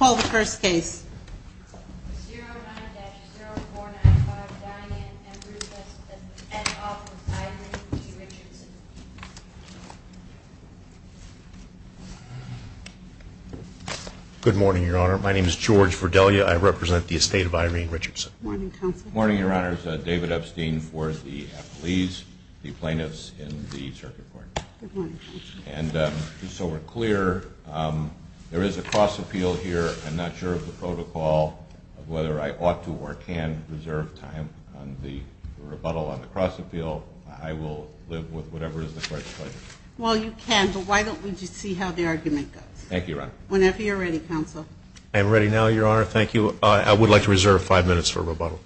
Good morning, Your Honor. My name is George Verdelia. I represent the estate of Irene Richardson. Morning, Counsel. Morning, Your Honors. David Epstein for the affilies, the plaintiffs in the circuit court. Good morning, Counsel. And just so we're clear, there is a cross-appeal here. I'm not sure of the protocol, whether I ought to or can reserve time on the rebuttal on the cross-appeal. I will live with whatever is the court's pleasure. Well, you can, but why don't we just see how the argument goes. Thank you, Your Honor. Whenever you're ready, Counsel. I am ready now, Your Honor. Thank you. I would like to reserve five minutes for rebuttal.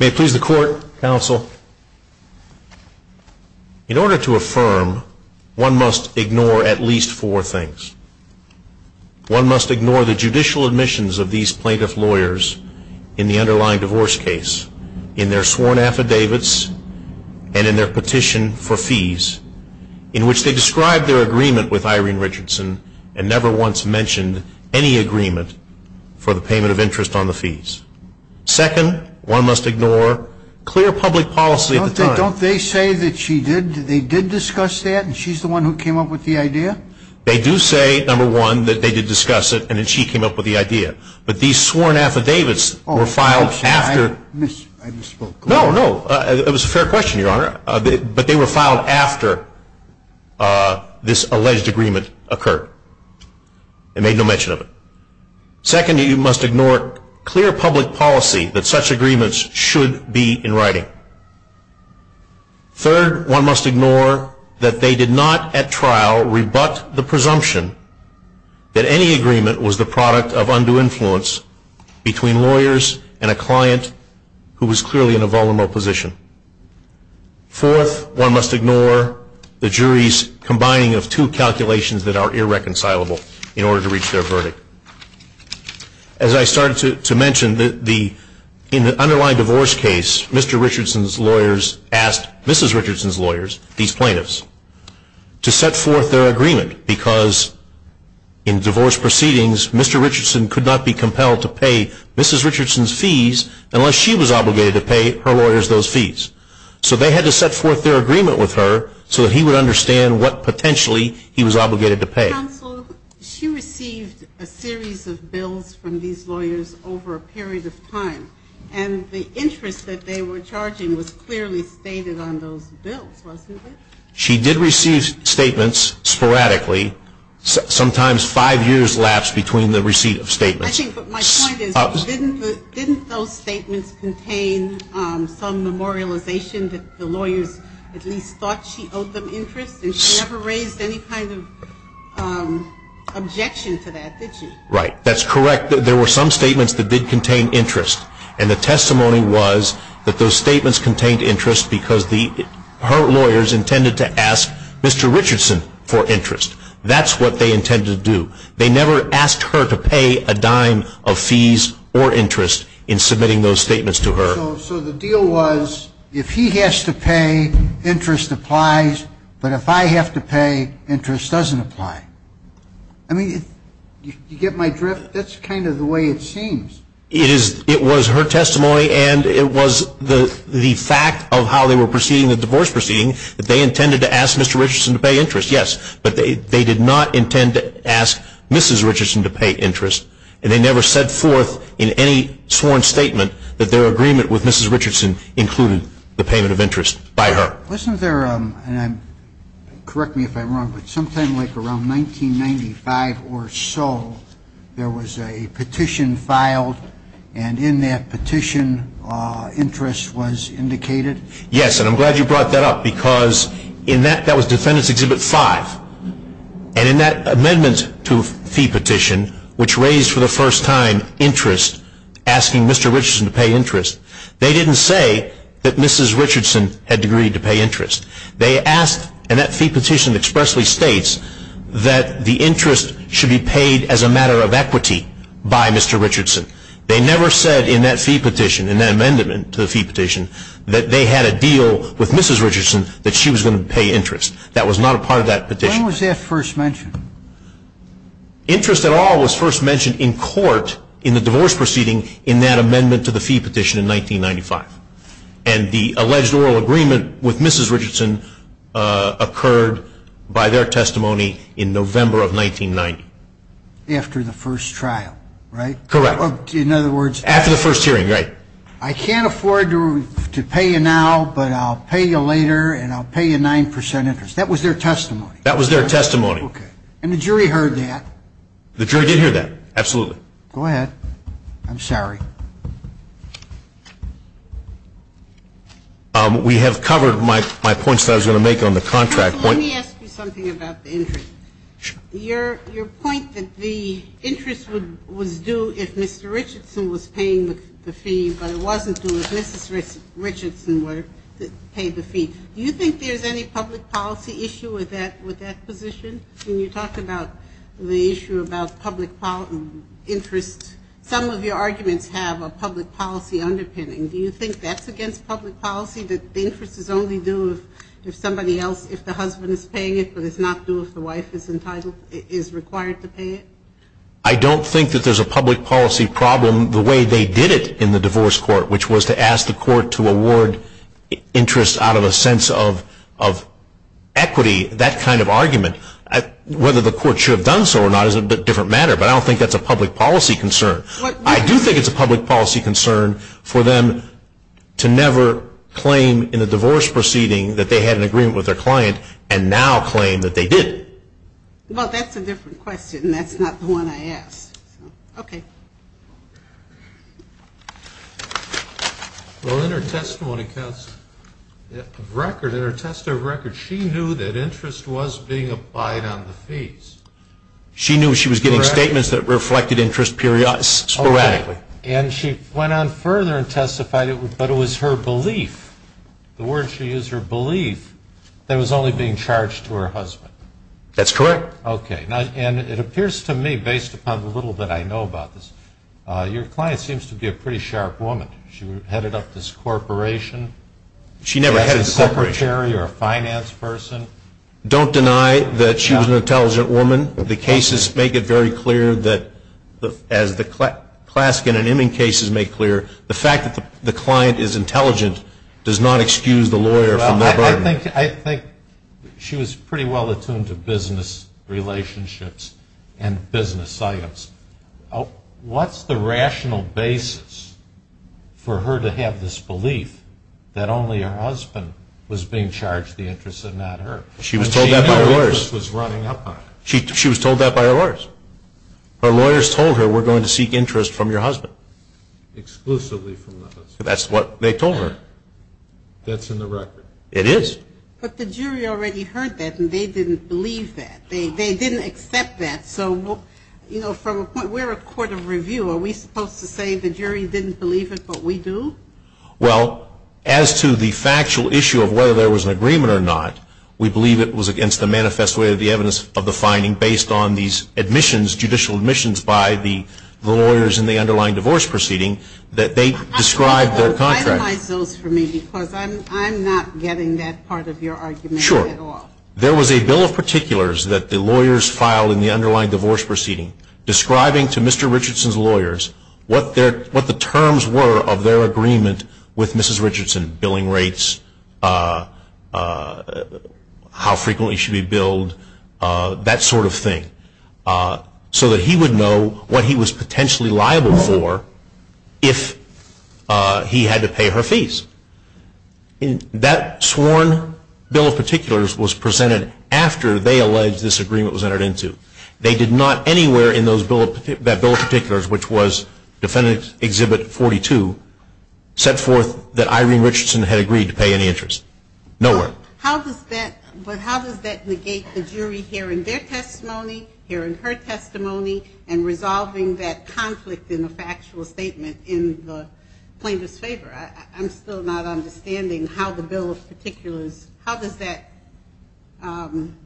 May it please the Court, Counsel. In order to affirm, one must ignore at least four things. One must ignore the judicial admissions of these plaintiff lawyers in the underlying divorce case, in their sworn affidavits, and in their petition for fees, in which they described their agreement with Irene Richardson and never once mentioned any agreement for the payment of interest on the fees. Second, one must ignore clear public policy at the time. Don't they say that she did? They did discuss that, and she's the one who came up with the idea? They do say, number one, that they did discuss it, and that she came up with the idea. But these sworn affidavits were filed after. Oh, I misspoke. No, no. It was a fair question, Your Honor. But they were filed after this alleged agreement occurred. They made no mention of it. Second, you must ignore clear public policy that such must ignore that they did not at trial rebut the presumption that any agreement was the product of undue influence between lawyers and a client who was clearly in a vulnerable position. Fourth, one must ignore the jury's combining of two calculations that are irreconcilable in order to reach their verdict. As I started to mention, in the underlying divorce case, Mr. Richardson's lawyers asked Mrs. Richardson's lawyers, these plaintiffs, to set forth their agreement because in divorce proceedings, Mr. Richardson could not be compelled to pay Mrs. Richardson's fees unless she was obligated to pay her lawyers those fees. So they had to set forth their agreement with her so that he would understand what potentially he was obligated to pay. Counsel, she received a series of bills from these lawyers over a period of time. The interest that they were charging was clearly stated on those bills, wasn't it? She did receive statements sporadically. Sometimes five years lapsed between the receipt of statements. I think what my point is, didn't those statements contain some memorialization that the lawyers at least thought she owed them interest? And she never raised any kind of objection to that, did she? Right. That's correct. There were some statements that did was that those statements contained interest because her lawyers intended to ask Mr. Richardson for interest. That's what they intended to do. They never asked her to pay a dime of fees or interest in submitting those statements to her. So the deal was, if he has to pay, interest applies, but if I have to pay, interest doesn't apply. I mean, you get my drift? That's kind of the way it seems. It was her testimony and it was the fact of how they were proceeding, the divorce proceeding, that they intended to ask Mr. Richardson to pay interest, yes. But they did not intend to ask Mrs. Richardson to pay interest. And they never set forth in any sworn statement that their agreement with Mrs. Richardson included the payment of interest by her. Wasn't there, and correct me if I'm wrong, but sometime like around 1895 or so, there was a petition filed and in that petition, interest was indicated? Yes, and I'm glad you brought that up because in that, that was Defendant's Exhibit 5. And in that amendment to fee petition, which raised for the first time interest, asking Mr. Richardson to pay interest, they didn't say that Mrs. Richardson had agreed to pay that the interest should be paid as a matter of equity by Mr. Richardson. They never said in that fee petition, in that amendment to the fee petition, that they had a deal with Mrs. Richardson that she was going to pay interest. That was not a part of that petition. When was that first mentioned? Interest at all was first mentioned in court in the divorce proceeding in that amendment to the fee petition in 1995. And the alleged oral agreement with Mrs. Richardson occurred by their testimony in November of 1990. After the first trial, right? Correct. In other words... After the first hearing, right. I can't afford to pay you now, but I'll pay you later and I'll pay you 9% interest. That was their testimony. That was their testimony. Okay. And the jury heard that? The jury did hear that, absolutely. Go ahead. I'm sorry. We have covered my points that I was going to make on the contract. Let me ask you something about the interest. Your point that the interest was due if Mr. Richardson was paying the fee, but it wasn't due if Mrs. Richardson paid the fee. Do you think there's any public policy issue with that position? When you talk about the issue about public interest, some of your arguments have a public policy underpinning. Do you think that's against public policy that the interest is only due if somebody else, if the husband is paying it, but it's not due if the wife is required to pay it? I don't think that there's a public policy problem the way they did it in the divorce court, which was to ask the court to award interest out of a sense of equity, that kind of argument. Whether the court should have done so or not is a different matter, but I don't think that's a public policy concern. I do think it's a public policy concern for them to never claim in a divorce proceeding that they had an agreement with their client and now claim that they did. Well, that's a different question. That's not the one I asked. Okay. Well, in her testimony of record, she knew that interest was being applied on the fees. She knew she was getting statements that reflected interest sporadically. And she went on further and testified, but it was her belief, the word she used, her belief, that it was only being charged to her husband. That's correct. Okay. And it appears to me, based upon the little that I know about this, your client seems to be a pretty sharp woman. She headed up this corporation. She never headed a corporation. As a secretary or a finance person. Don't deny that she was an intelligent woman. The cases make it very clear that as the class in and in cases make clear, the fact that the client is intelligent does not excuse the lawyer from that burden. I think she was pretty well attuned to business relationships and business science. What's the rational basis for her to have this belief that only her husband was being charged the interest and not her? She was told that by her lawyers. She knew interest was running up on her. She was told that by her lawyers. Her lawyers told her, we're going to seek interest from your husband. Exclusively from the husband. That's what they told her. That's in the record. It is. But the jury already heard that and they didn't believe that. They didn't accept that. So we're a court of review. Are we supposed to say the jury didn't believe it but we do? Well, as to the factual issue of whether there was an agreement or not, we believe it was against the manifest way of the evidence of the finding based on these admissions, judicial admissions by the lawyers in the underlying divorce proceeding that they described their contract. I'm not getting that part of your argument at all. There was a bill of particulars that the lawyers filed in the underlying divorce proceeding describing to Mr. Richardson's lawyers what the terms were of their agreement with Mrs. He would know what he was potentially liable for if he had to pay her fees. That sworn bill of particulars was presented after they alleged this agreement was entered into. They did not anywhere in that bill of particulars, which was Defendant Exhibit 42, set forth that Irene Richardson had agreed to pay any interest. Nowhere. But how does that negate the jury hearing their testimony, hearing her testimony, and resolving that conflict in a factual statement in the plaintiff's favor? I'm still not understanding how the bill of particulars, how does that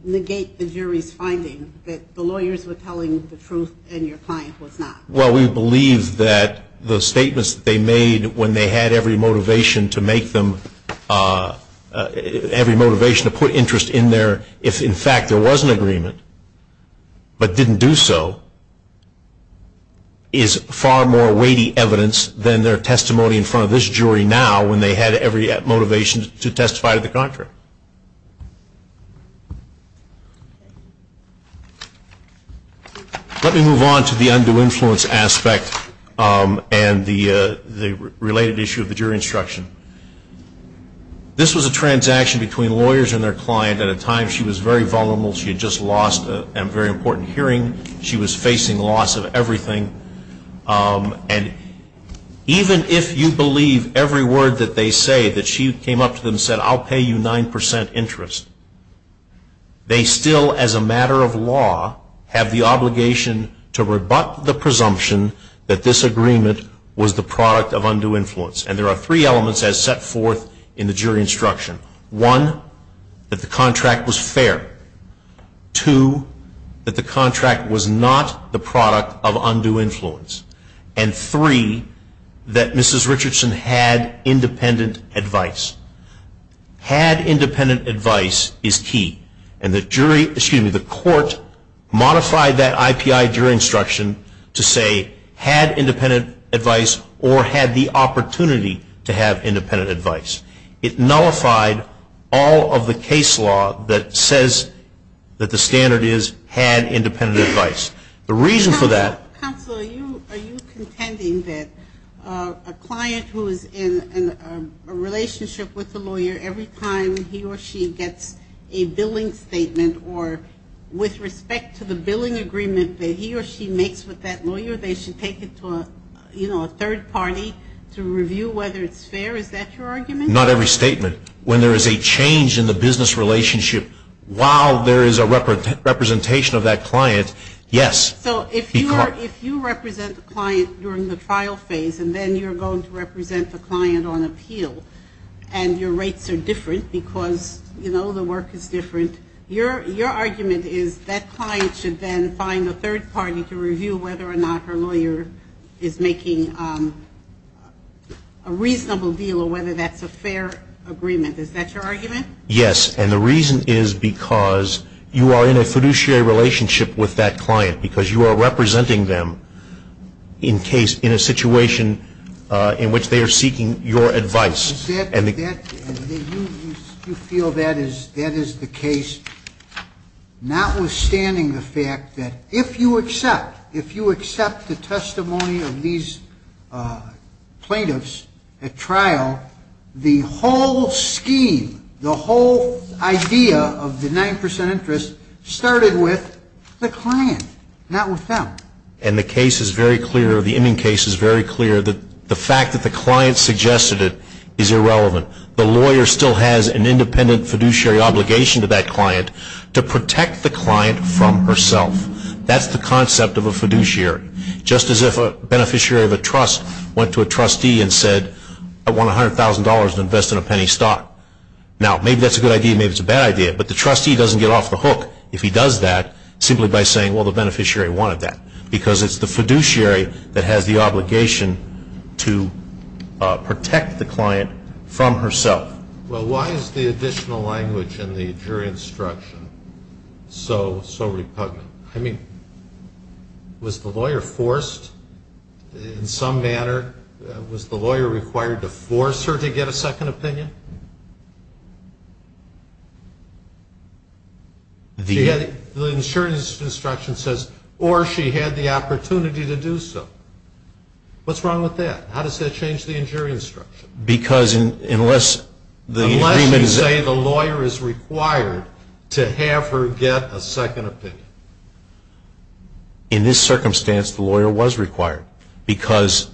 negate the jury's finding that the lawyers were telling the truth and your client was not? Well, we believe that the statements that they made when they had every motivation to put interest in there if, in fact, there was an agreement but didn't do so is far more weighty evidence than their testimony in front of this jury now when they had every motivation to testify to the contrary. Let me move on to the undue influence aspect and the related issue of the jury instruction. This was a transaction between lawyers and their client at a time she was very vulnerable. She had just lost a very important hearing. She was facing loss of everything. And even if you believe every word that they say, that she came up to them and said, I'll pay you 9% interest, they still, as a matter of law, have the obligation to rebut the presumption that this agreement was the product of undue influence. And there are three elements as set forth in the jury instruction. One, that the contract was fair. Two, that the contract was not the product of undue influence. And three, that Mrs. Richardson had independent advice. Had independent advice is key. And the jury, excuse me, the court modified that IPI jury instruction to say, had independent advice or had the opportunity to have independent advice. It nullified all of the case law that says that the standard is, had independent advice. The reason for that. Counsel, are you contending that a client who is in a relationship with a lawyer, every time he or she gets a billing statement or with respect to the billing agreement that he or she makes with that lawyer, they should take it to a, you know, a third party to review whether it's fair? Is that your argument? Not every statement. When there is a change in the business relationship, while there is a representation of that client, yes. So if you represent the client during the trial phase, and then you're going to represent the client on appeal, and your rates are different because, you know, the work is different, your argument is that client should then find a third party to review whether or not her lawyer is making a reasonable deal or whether that's a fair agreement. Is that your argument? Yes. And the reason is because you are in a fiduciary relationship with that client because you are representing them in case, in a situation in which they are seeking your advice. And you feel that is the case, notwithstanding the fact that if you accept, if you accept the testimony of these plaintiffs at trial, the whole scheme, the whole idea of the 9 percent interest started with the client, not with them. And the case is very clear, the ending case is very clear that the fact that the client suggested it is irrelevant. The lawyer still has an independent fiduciary obligation to that client to protect the client from herself. That's the concept of a fiduciary. Just as if a beneficiary of a trust went to a trustee and said, I want $100,000 to invest in a penny stock. Now, maybe that's a good idea, maybe it's a bad idea, but the trustee doesn't get off the hook if he does that, simply by saying, well, the beneficiary wanted that. Because it's the fiduciary that has the obligation to protect the client from herself. Well, why is the additional language in the jury instruction so repugnant? I mean, was the lawyer forced in some manner? Was the lawyer required to force her to get a second opinion? In this circumstance, the lawyer was required. Because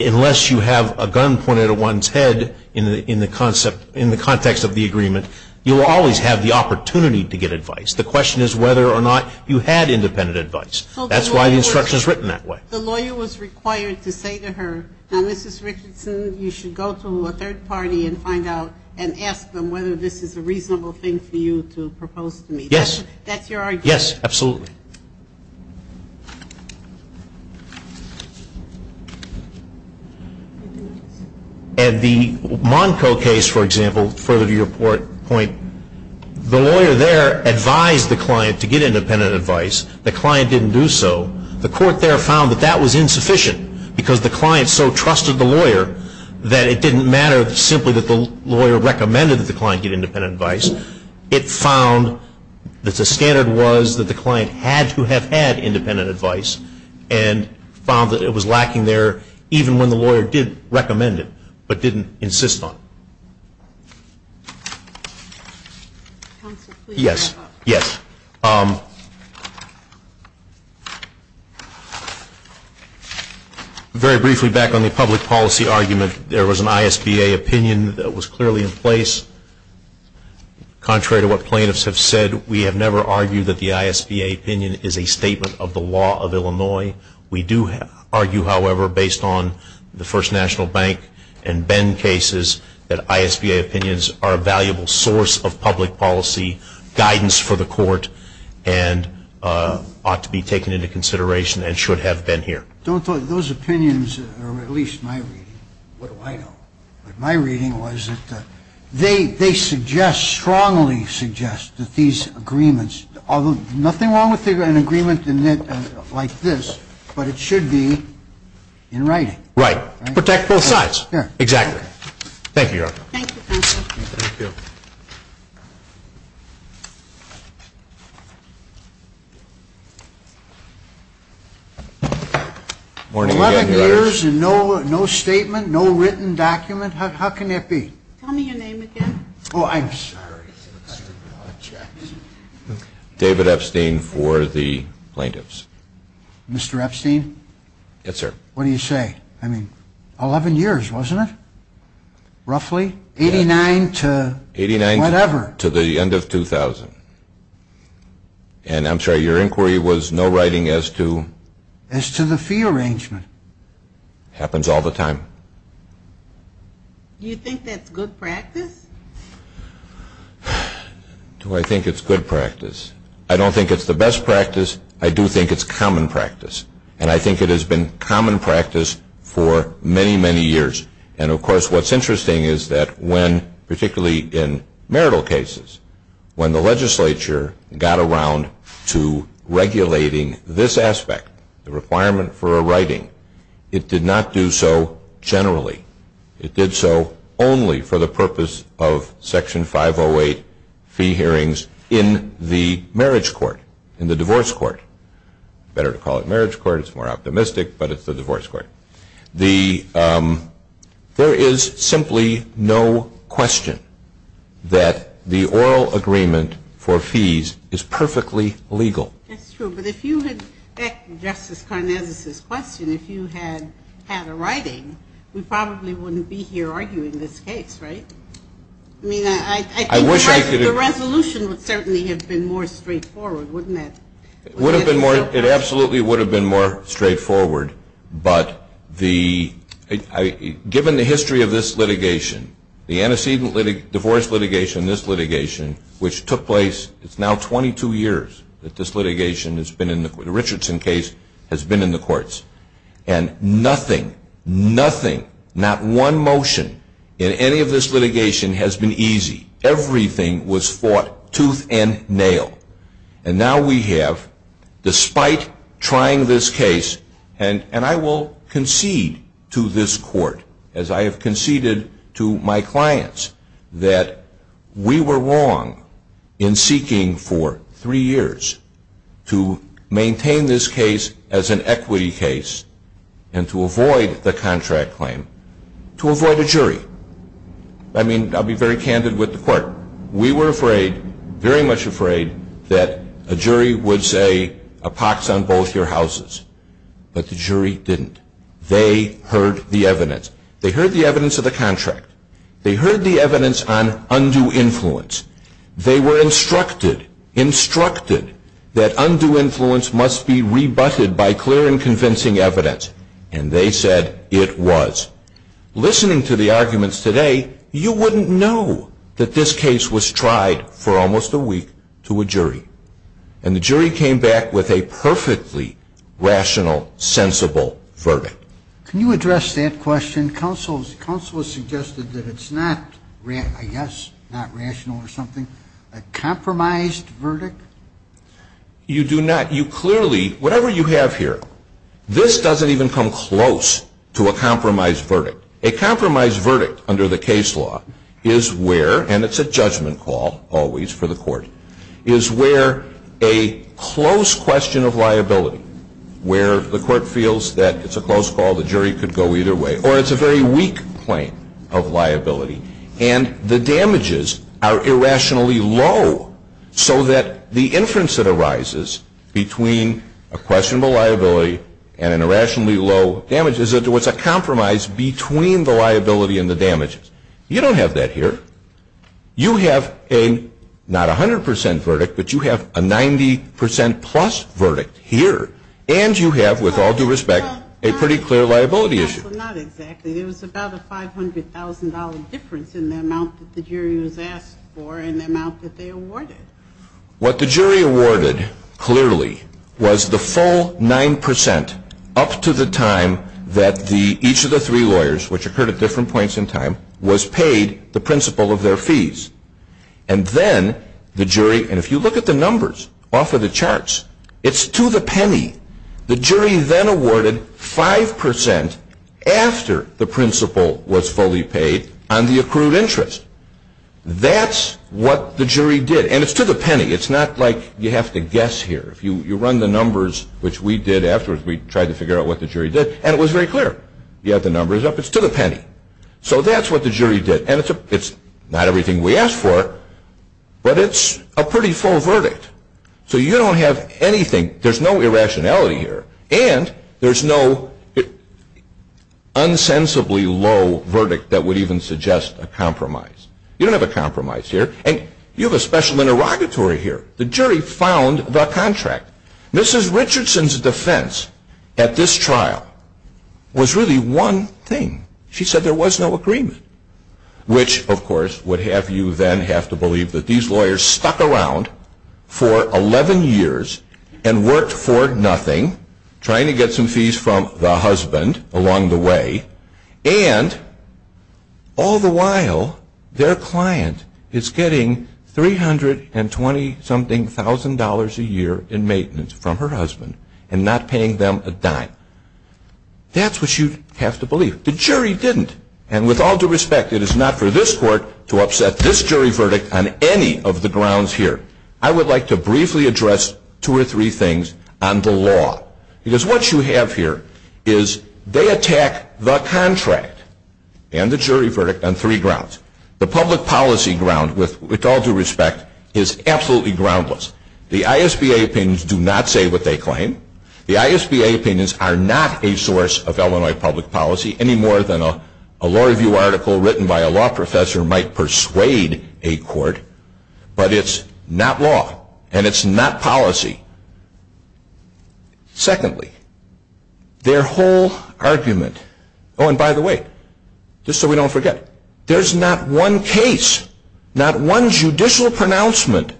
unless you have a gun pointed at one's head in the context of the agreement, you will always have the opportunity to get advice. The question is whether or not you had independent advice. That's why the instruction is written that way. The lawyer was required to say to her, now, Mrs. Richardson, you should go to a third party and find out and ask them whether this is a reasonable thing for you to propose to me. Yes. That's your argument? Yes, absolutely. And the Monco case, for example, further to your point, the lawyer there advised the client to get independent advice. The client didn't do so. The court there found that that was insufficient because the client so trusted the lawyer that it didn't matter simply that the lawyer recommended that the client get independent advice. It found that the standard was that the client had to have had independent advice and found that it was lacking there even when the lawyer did recommend it, but didn't insist on it. Yes. Very briefly, back on the public policy argument, there was an ISBA opinion that was that the ISBA opinion is a statement of the law of Illinois. We do argue, however, based on the First National Bank and Bend cases that ISBA opinions are a valuable source of public policy guidance for the court and ought to be taken into consideration and should have been here. Don't those opinions, or at least my reading, what do I know? My reading was that they suggest, strongly suggest that these agreements, nothing wrong with an agreement like this, but it should be in writing. Right. Protect both sides. Exactly. Thank you, Your Honor. Thank you, counsel. Thank you. 11 years and no statement, no written document, how can that be? Tell me your name again. Oh, I'm sorry. David Epstein for the plaintiffs. Mr. Epstein? Yes, sir. What do you say? I mean, 11 years, wasn't it? Roughly? 89 to whatever. 89 to the end of 2000. And I'm sorry, your inquiry was no writing as to... As to the fee arrangement. Happens all the time. Do you think that's good practice? Do I think it's good practice? I don't think it's the best practice. I do think it's common practice. And I think it has been common practice for many, many years. And of course, what's interesting is that when, particularly in marital cases, when the legislature got around to regulating this aspect, the requirement for a writing, it did not do so generally. It did so only for the purpose of Section 508 fee hearings in the marriage court, in the divorce court. Better to call it marriage court, it's more optimistic, but it's the divorce court. There is simply no question that the oral agreement for fees is perfectly legal. That's true, but if you had, back to Justice Karnazes' question, if you had had a writing, we probably wouldn't be here arguing this case, right? I mean, I think the resolution would certainly have been more straightforward, wouldn't it? It absolutely would have been more straightforward, but given the history of this litigation, the antecedent divorce litigation, this litigation, which took place, it's now 22 years that this litigation has been in the, the Richardson case has been in the courts, and nothing, nothing, not one motion in any of this litigation has been easy. Everything was fought tooth and nail, and now we have, despite trying this case, and, and I will concede to this court, as I have conceded to my clients, that we were wrong in seeking for three years to maintain this case as an equity case and to avoid the contract claim, to avoid a jury. I mean, I'll be very candid with the court. We were afraid, very much afraid, that a jury would say a pox on both your houses, but the jury didn't. They heard the evidence. They heard the evidence of the contract. They heard the evidence on undue influence. They were instructed, instructed, that undue influence must be rebutted by clear and You wouldn't know that this case was tried for almost a week to a jury, and the jury came back with a perfectly rational, sensible verdict. Can you address that question? Counsel, counsel has suggested that it's not, I guess, not rational or something, a compromised verdict? You do not. You clearly, whatever you have here, this doesn't even come close to a under the case law, is where, and it's a judgment call always for the court, is where a close question of liability, where the court feels that it's a close call, the jury could go either way, or it's a very weak claim of liability, and the damages are irrationally low so that the inference that arises between a questionable liability and an irrationally low damage is that there was a compromise between the liability and the damages. You don't have that here. You have a, not a 100 percent verdict, but you have a 90 percent plus verdict here, and you have, with all due respect, a pretty clear liability issue. Well, not exactly. There was about a $500,000 difference in the amount that the jury was asked for and the amount that they awarded. What the jury awarded, clearly, was the full 9 percent up to the time that the, each of the three lawyers, which occurred at different points in time, was paid the principal of their fees. And then the jury, and if you look at the numbers off of the charts, it's to the penny. The jury then awarded 5 percent after the principal was fully paid on the accrued interest. That's what the jury did. And it's to the penny. It's not like you have to guess here. If you run the numbers, which we did afterwards, we tried to figure out what the jury did, and it was very clear. You have the numbers up. It's to the penny. So that's what the jury did. And it's not everything we asked for, but it's a pretty full verdict. So you don't have anything, there's no irrationality here, and there's no insensibly low verdict that would even suggest a compromise. You don't have a compromise here. And you have a special interrogatory here. The jury found the contract. Mrs. Richardson's defense at this trial was really one thing. She said there was no agreement, which, of course, would have you then have to believe that these lawyers stuck around for 11 years and worked for nothing, trying to get some fees from the husband along the way, and all the while their client is getting $320,000 a year in maintenance from her husband and not paying them a dime. That's what you have to believe. The jury didn't. And with all due respect, it is not for this court to upset this jury verdict on any of the grounds here. I would like to briefly address two or three things on the law. Because what you have here is they attack the contract and the jury verdict on three grounds. The public policy ground, with all due respect, is absolutely groundless. The ISBA opinions do not say what they claim. The ISBA opinions are not a source of Illinois public policy any more than a law review article written by a law professor might persuade a court. But it's not law, and it's not policy. Secondly, their whole argument, oh, and by the way, just so we don't forget, there's not one case, not one judicial pronouncement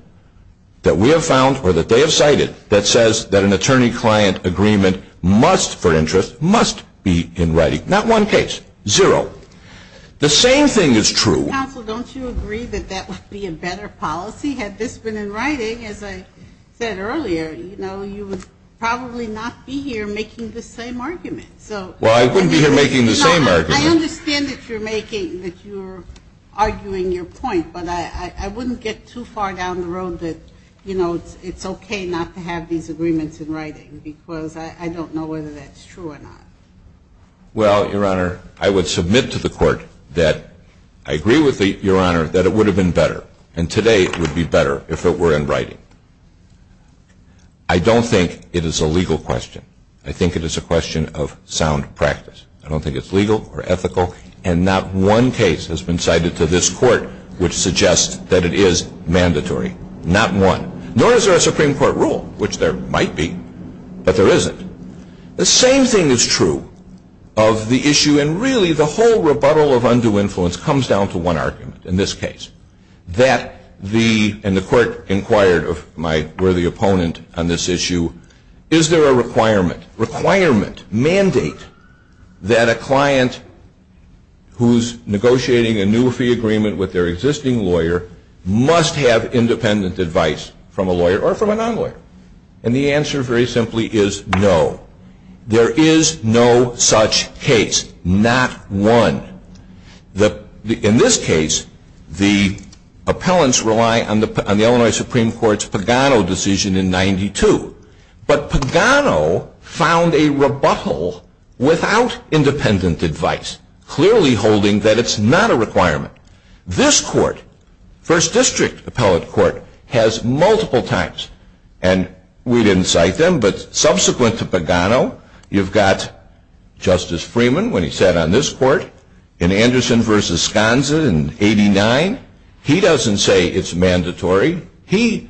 that we have found or that they have cited that says that an attorney-client agreement must, for interest, must be in writing. Not one case. Zero. The same thing is true. Counsel, don't you agree that that would be a better policy? Had this been in writing, as I said earlier, you know, you would probably not be here making the same argument. Well, I wouldn't be here making the same argument. I understand that you're making, that you're arguing your point, but I wouldn't get too far down the road that, you know, it's okay not to have these agreements in writing because I don't know whether that's true or not. Well, Your Honor, I would submit to the court that I agree with Your Honor that it would have been better, and today it would be better if it were in writing. I don't think it is a legal question. I think it is a question of sound practice. I don't think it's legal or ethical, and not one case has been cited to this court which suggests that it is mandatory. Not one. Nor is there a Supreme Court rule, which there might be, but there isn't. The same thing is true of the issue, and really the whole rebuttal of undue influence comes down to one argument, in this case, that the, and the court inquired of my worthy opponent on this issue, is there a requirement, requirement, mandate, that a client who's negotiating a new fee agreement with their existing lawyer must have independent advice from a lawyer or from a non-lawyer? And the answer, very simply, is no. There is no such case. Not one. In this case, the appellants rely on the Illinois Supreme Court's Pagano decision in 92, but Pagano found a rebuttal without independent advice, clearly holding that it's not a requirement. This court, First District Appellate Court, has multiple times, and we didn't cite them, but subsequent to Pagano, you've got Justice Freeman, when he sat on this court, in Anderson v. Sconza in 89. He doesn't say it's mandatory. He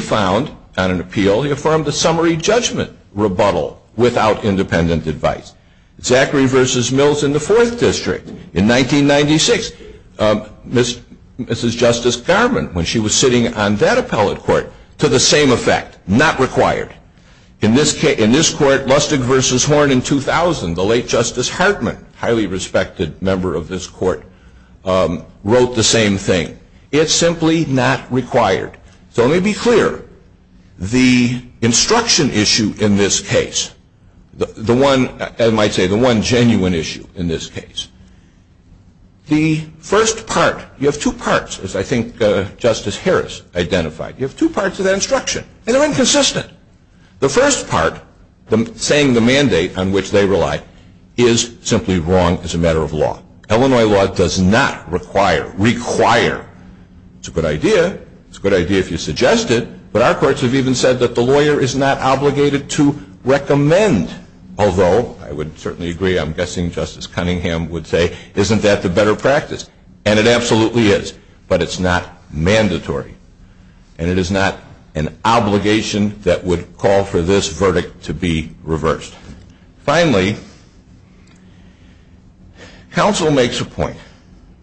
found, on an appeal, he affirmed a summary judgment rebuttal without independent advice. Zachary v. Mills in the Fourth District in 1996. Mrs. Justice Garman, when she was sitting on that appellate court, to the same effect, not required. In this case, in this court, Lustig v. Horn in 2000, the late Justice Hartman, highly respected member of this court, wrote the same thing. It's simply not required. So let me be clear. The instruction issue in this case, the one, I might say, the one genuine issue in this case, the first part, you have two parts, as I think Justice Harris identified. You have two parts of that instruction, and they're inconsistent. The first part, saying the mandate on which they rely, is simply wrong as a matter of law. Illinois law does not require, require. It's a good idea. It's a good idea if you suggest it. But our courts have even said that the lawyer is not obligated to recommend. Although, I would certainly agree, I'm guessing Justice Cunningham would say, isn't that the better practice? And it absolutely is. But it's not mandatory. And it is not an obligation that would call for this verdict to be reversed. Finally, counsel makes a point,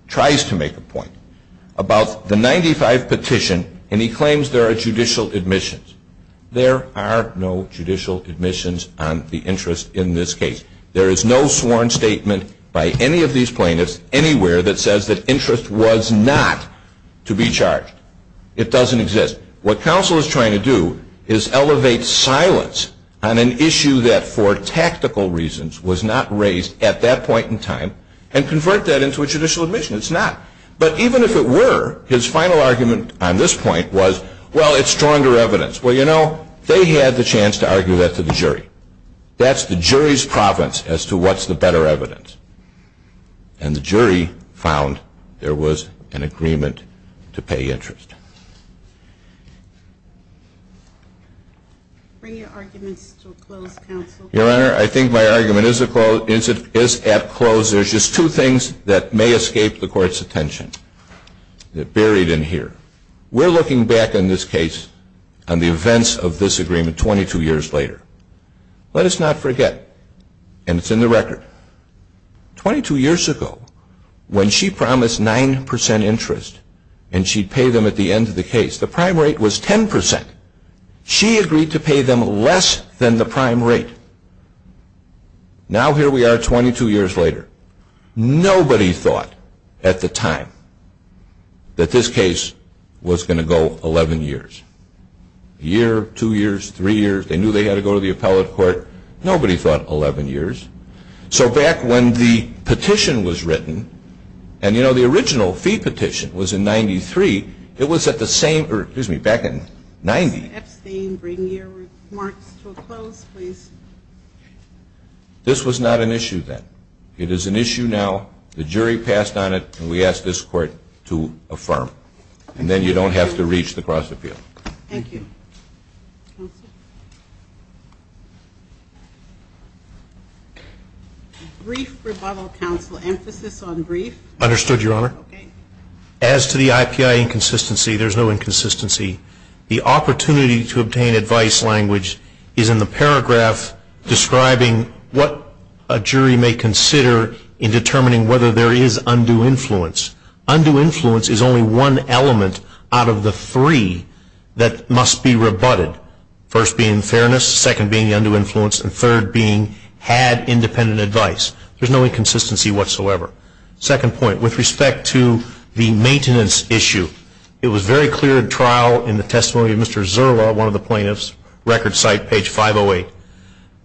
tries to make a point, about the 95 petition, and he claims there are judicial admissions. There are no judicial admissions on the interest in this case. There is no sworn statement by any of these plaintiffs anywhere that says that interest was not to be charged. It doesn't exist. What counsel is trying to do is elevate silence on an issue that, for tactical reasons, was not raised at that point in time, and convert that into a judicial admission. It's not. But even if it were, his final argument on this point was, well, it's stronger evidence. Well, you know, they had the chance to argue that to the jury. That's the jury's province as to what's the better evidence. And the jury found there was an agreement to pay interest. Bring your arguments to a close, counsel. Your Honor, I think my argument is at close. There's just two things that may escape the Court's attention. They're buried in here. We're looking back on this case, on the events of this agreement 22 years later. Let us not forget, and it's in the record, 22 years ago, when she promised 9% interest and she'd pay them at the end of the case, the prime rate was 10%. She agreed to pay them less than the prime rate. Now here we are 22 years later. Nobody thought at the time that this case was going to go 11 years. A year, two years, three years. They knew they had to go to the appellate court. Nobody thought 11 years. So back when the petition was written, and, you know, the original fee petition was in 93. It was at the same, or excuse me, back in 90. Mr. Epstein, bring your remarks to a close, please. This was not an issue then. It is an issue now. The jury passed on it, and we ask this Court to affirm. And then you don't have to reach the cross-appeal. Thank you. Brief rebuttal, counsel. Emphasis on brief. Understood, Your Honor. Okay. As to the IPI inconsistency, there's no inconsistency. The opportunity to obtain advice language is in the paragraph describing what a jury may consider in determining whether there is undue influence. Undue influence is only one element out of the three that must be rebutted, first being fairness, second being the undue influence, and third being had independent advice. There's no inconsistency whatsoever. Second point, with respect to the maintenance issue, it was very clear in trial in the testimony of Mr. Zerla, one of the plaintiffs, record site, page 508,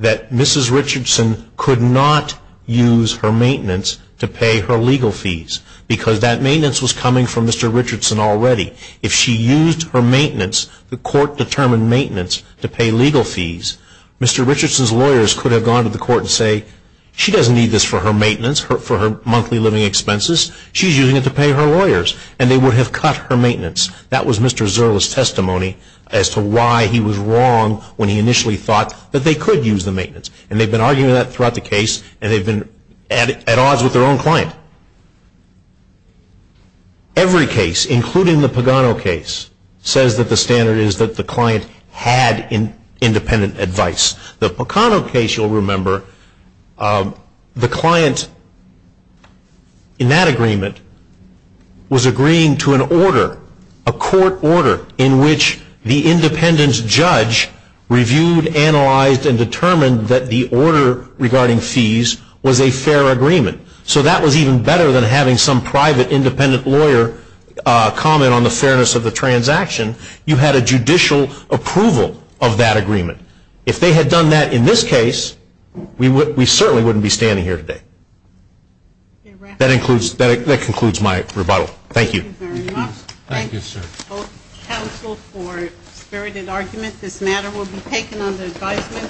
that Mrs. Richardson could not use her maintenance to pay her legal fees because that maintenance was coming from Mr. Richardson already. If she used her maintenance, the Court determined maintenance to pay legal fees, Mr. Richardson's lawyers could have gone to the Court and say, she doesn't need this for her maintenance, for her monthly living expenses. She's using it to pay her lawyers, and they would have cut her maintenance. That was Mr. Zerla's testimony as to why he was wrong when he initially thought that they could use the maintenance. And they've been arguing that throughout the case, and they've been at odds with their own client. Every case, including the Pagano case, says that the standard is that the client had independent advice. The Pagano case, you'll remember, the client in that agreement was agreeing to an order, a court order in which the independent judge reviewed, analyzed, and determined that the order regarding fees was a fair agreement. So that was even better than having some private independent lawyer comment on the fairness of the transaction. You had a judicial approval of that agreement. If they had done that in this case, we certainly wouldn't be standing here today. That concludes my rebuttal. Thank you. Thank you very much. Thank you, sir. Counsel for spirited argument, this matter will be taken under advisement.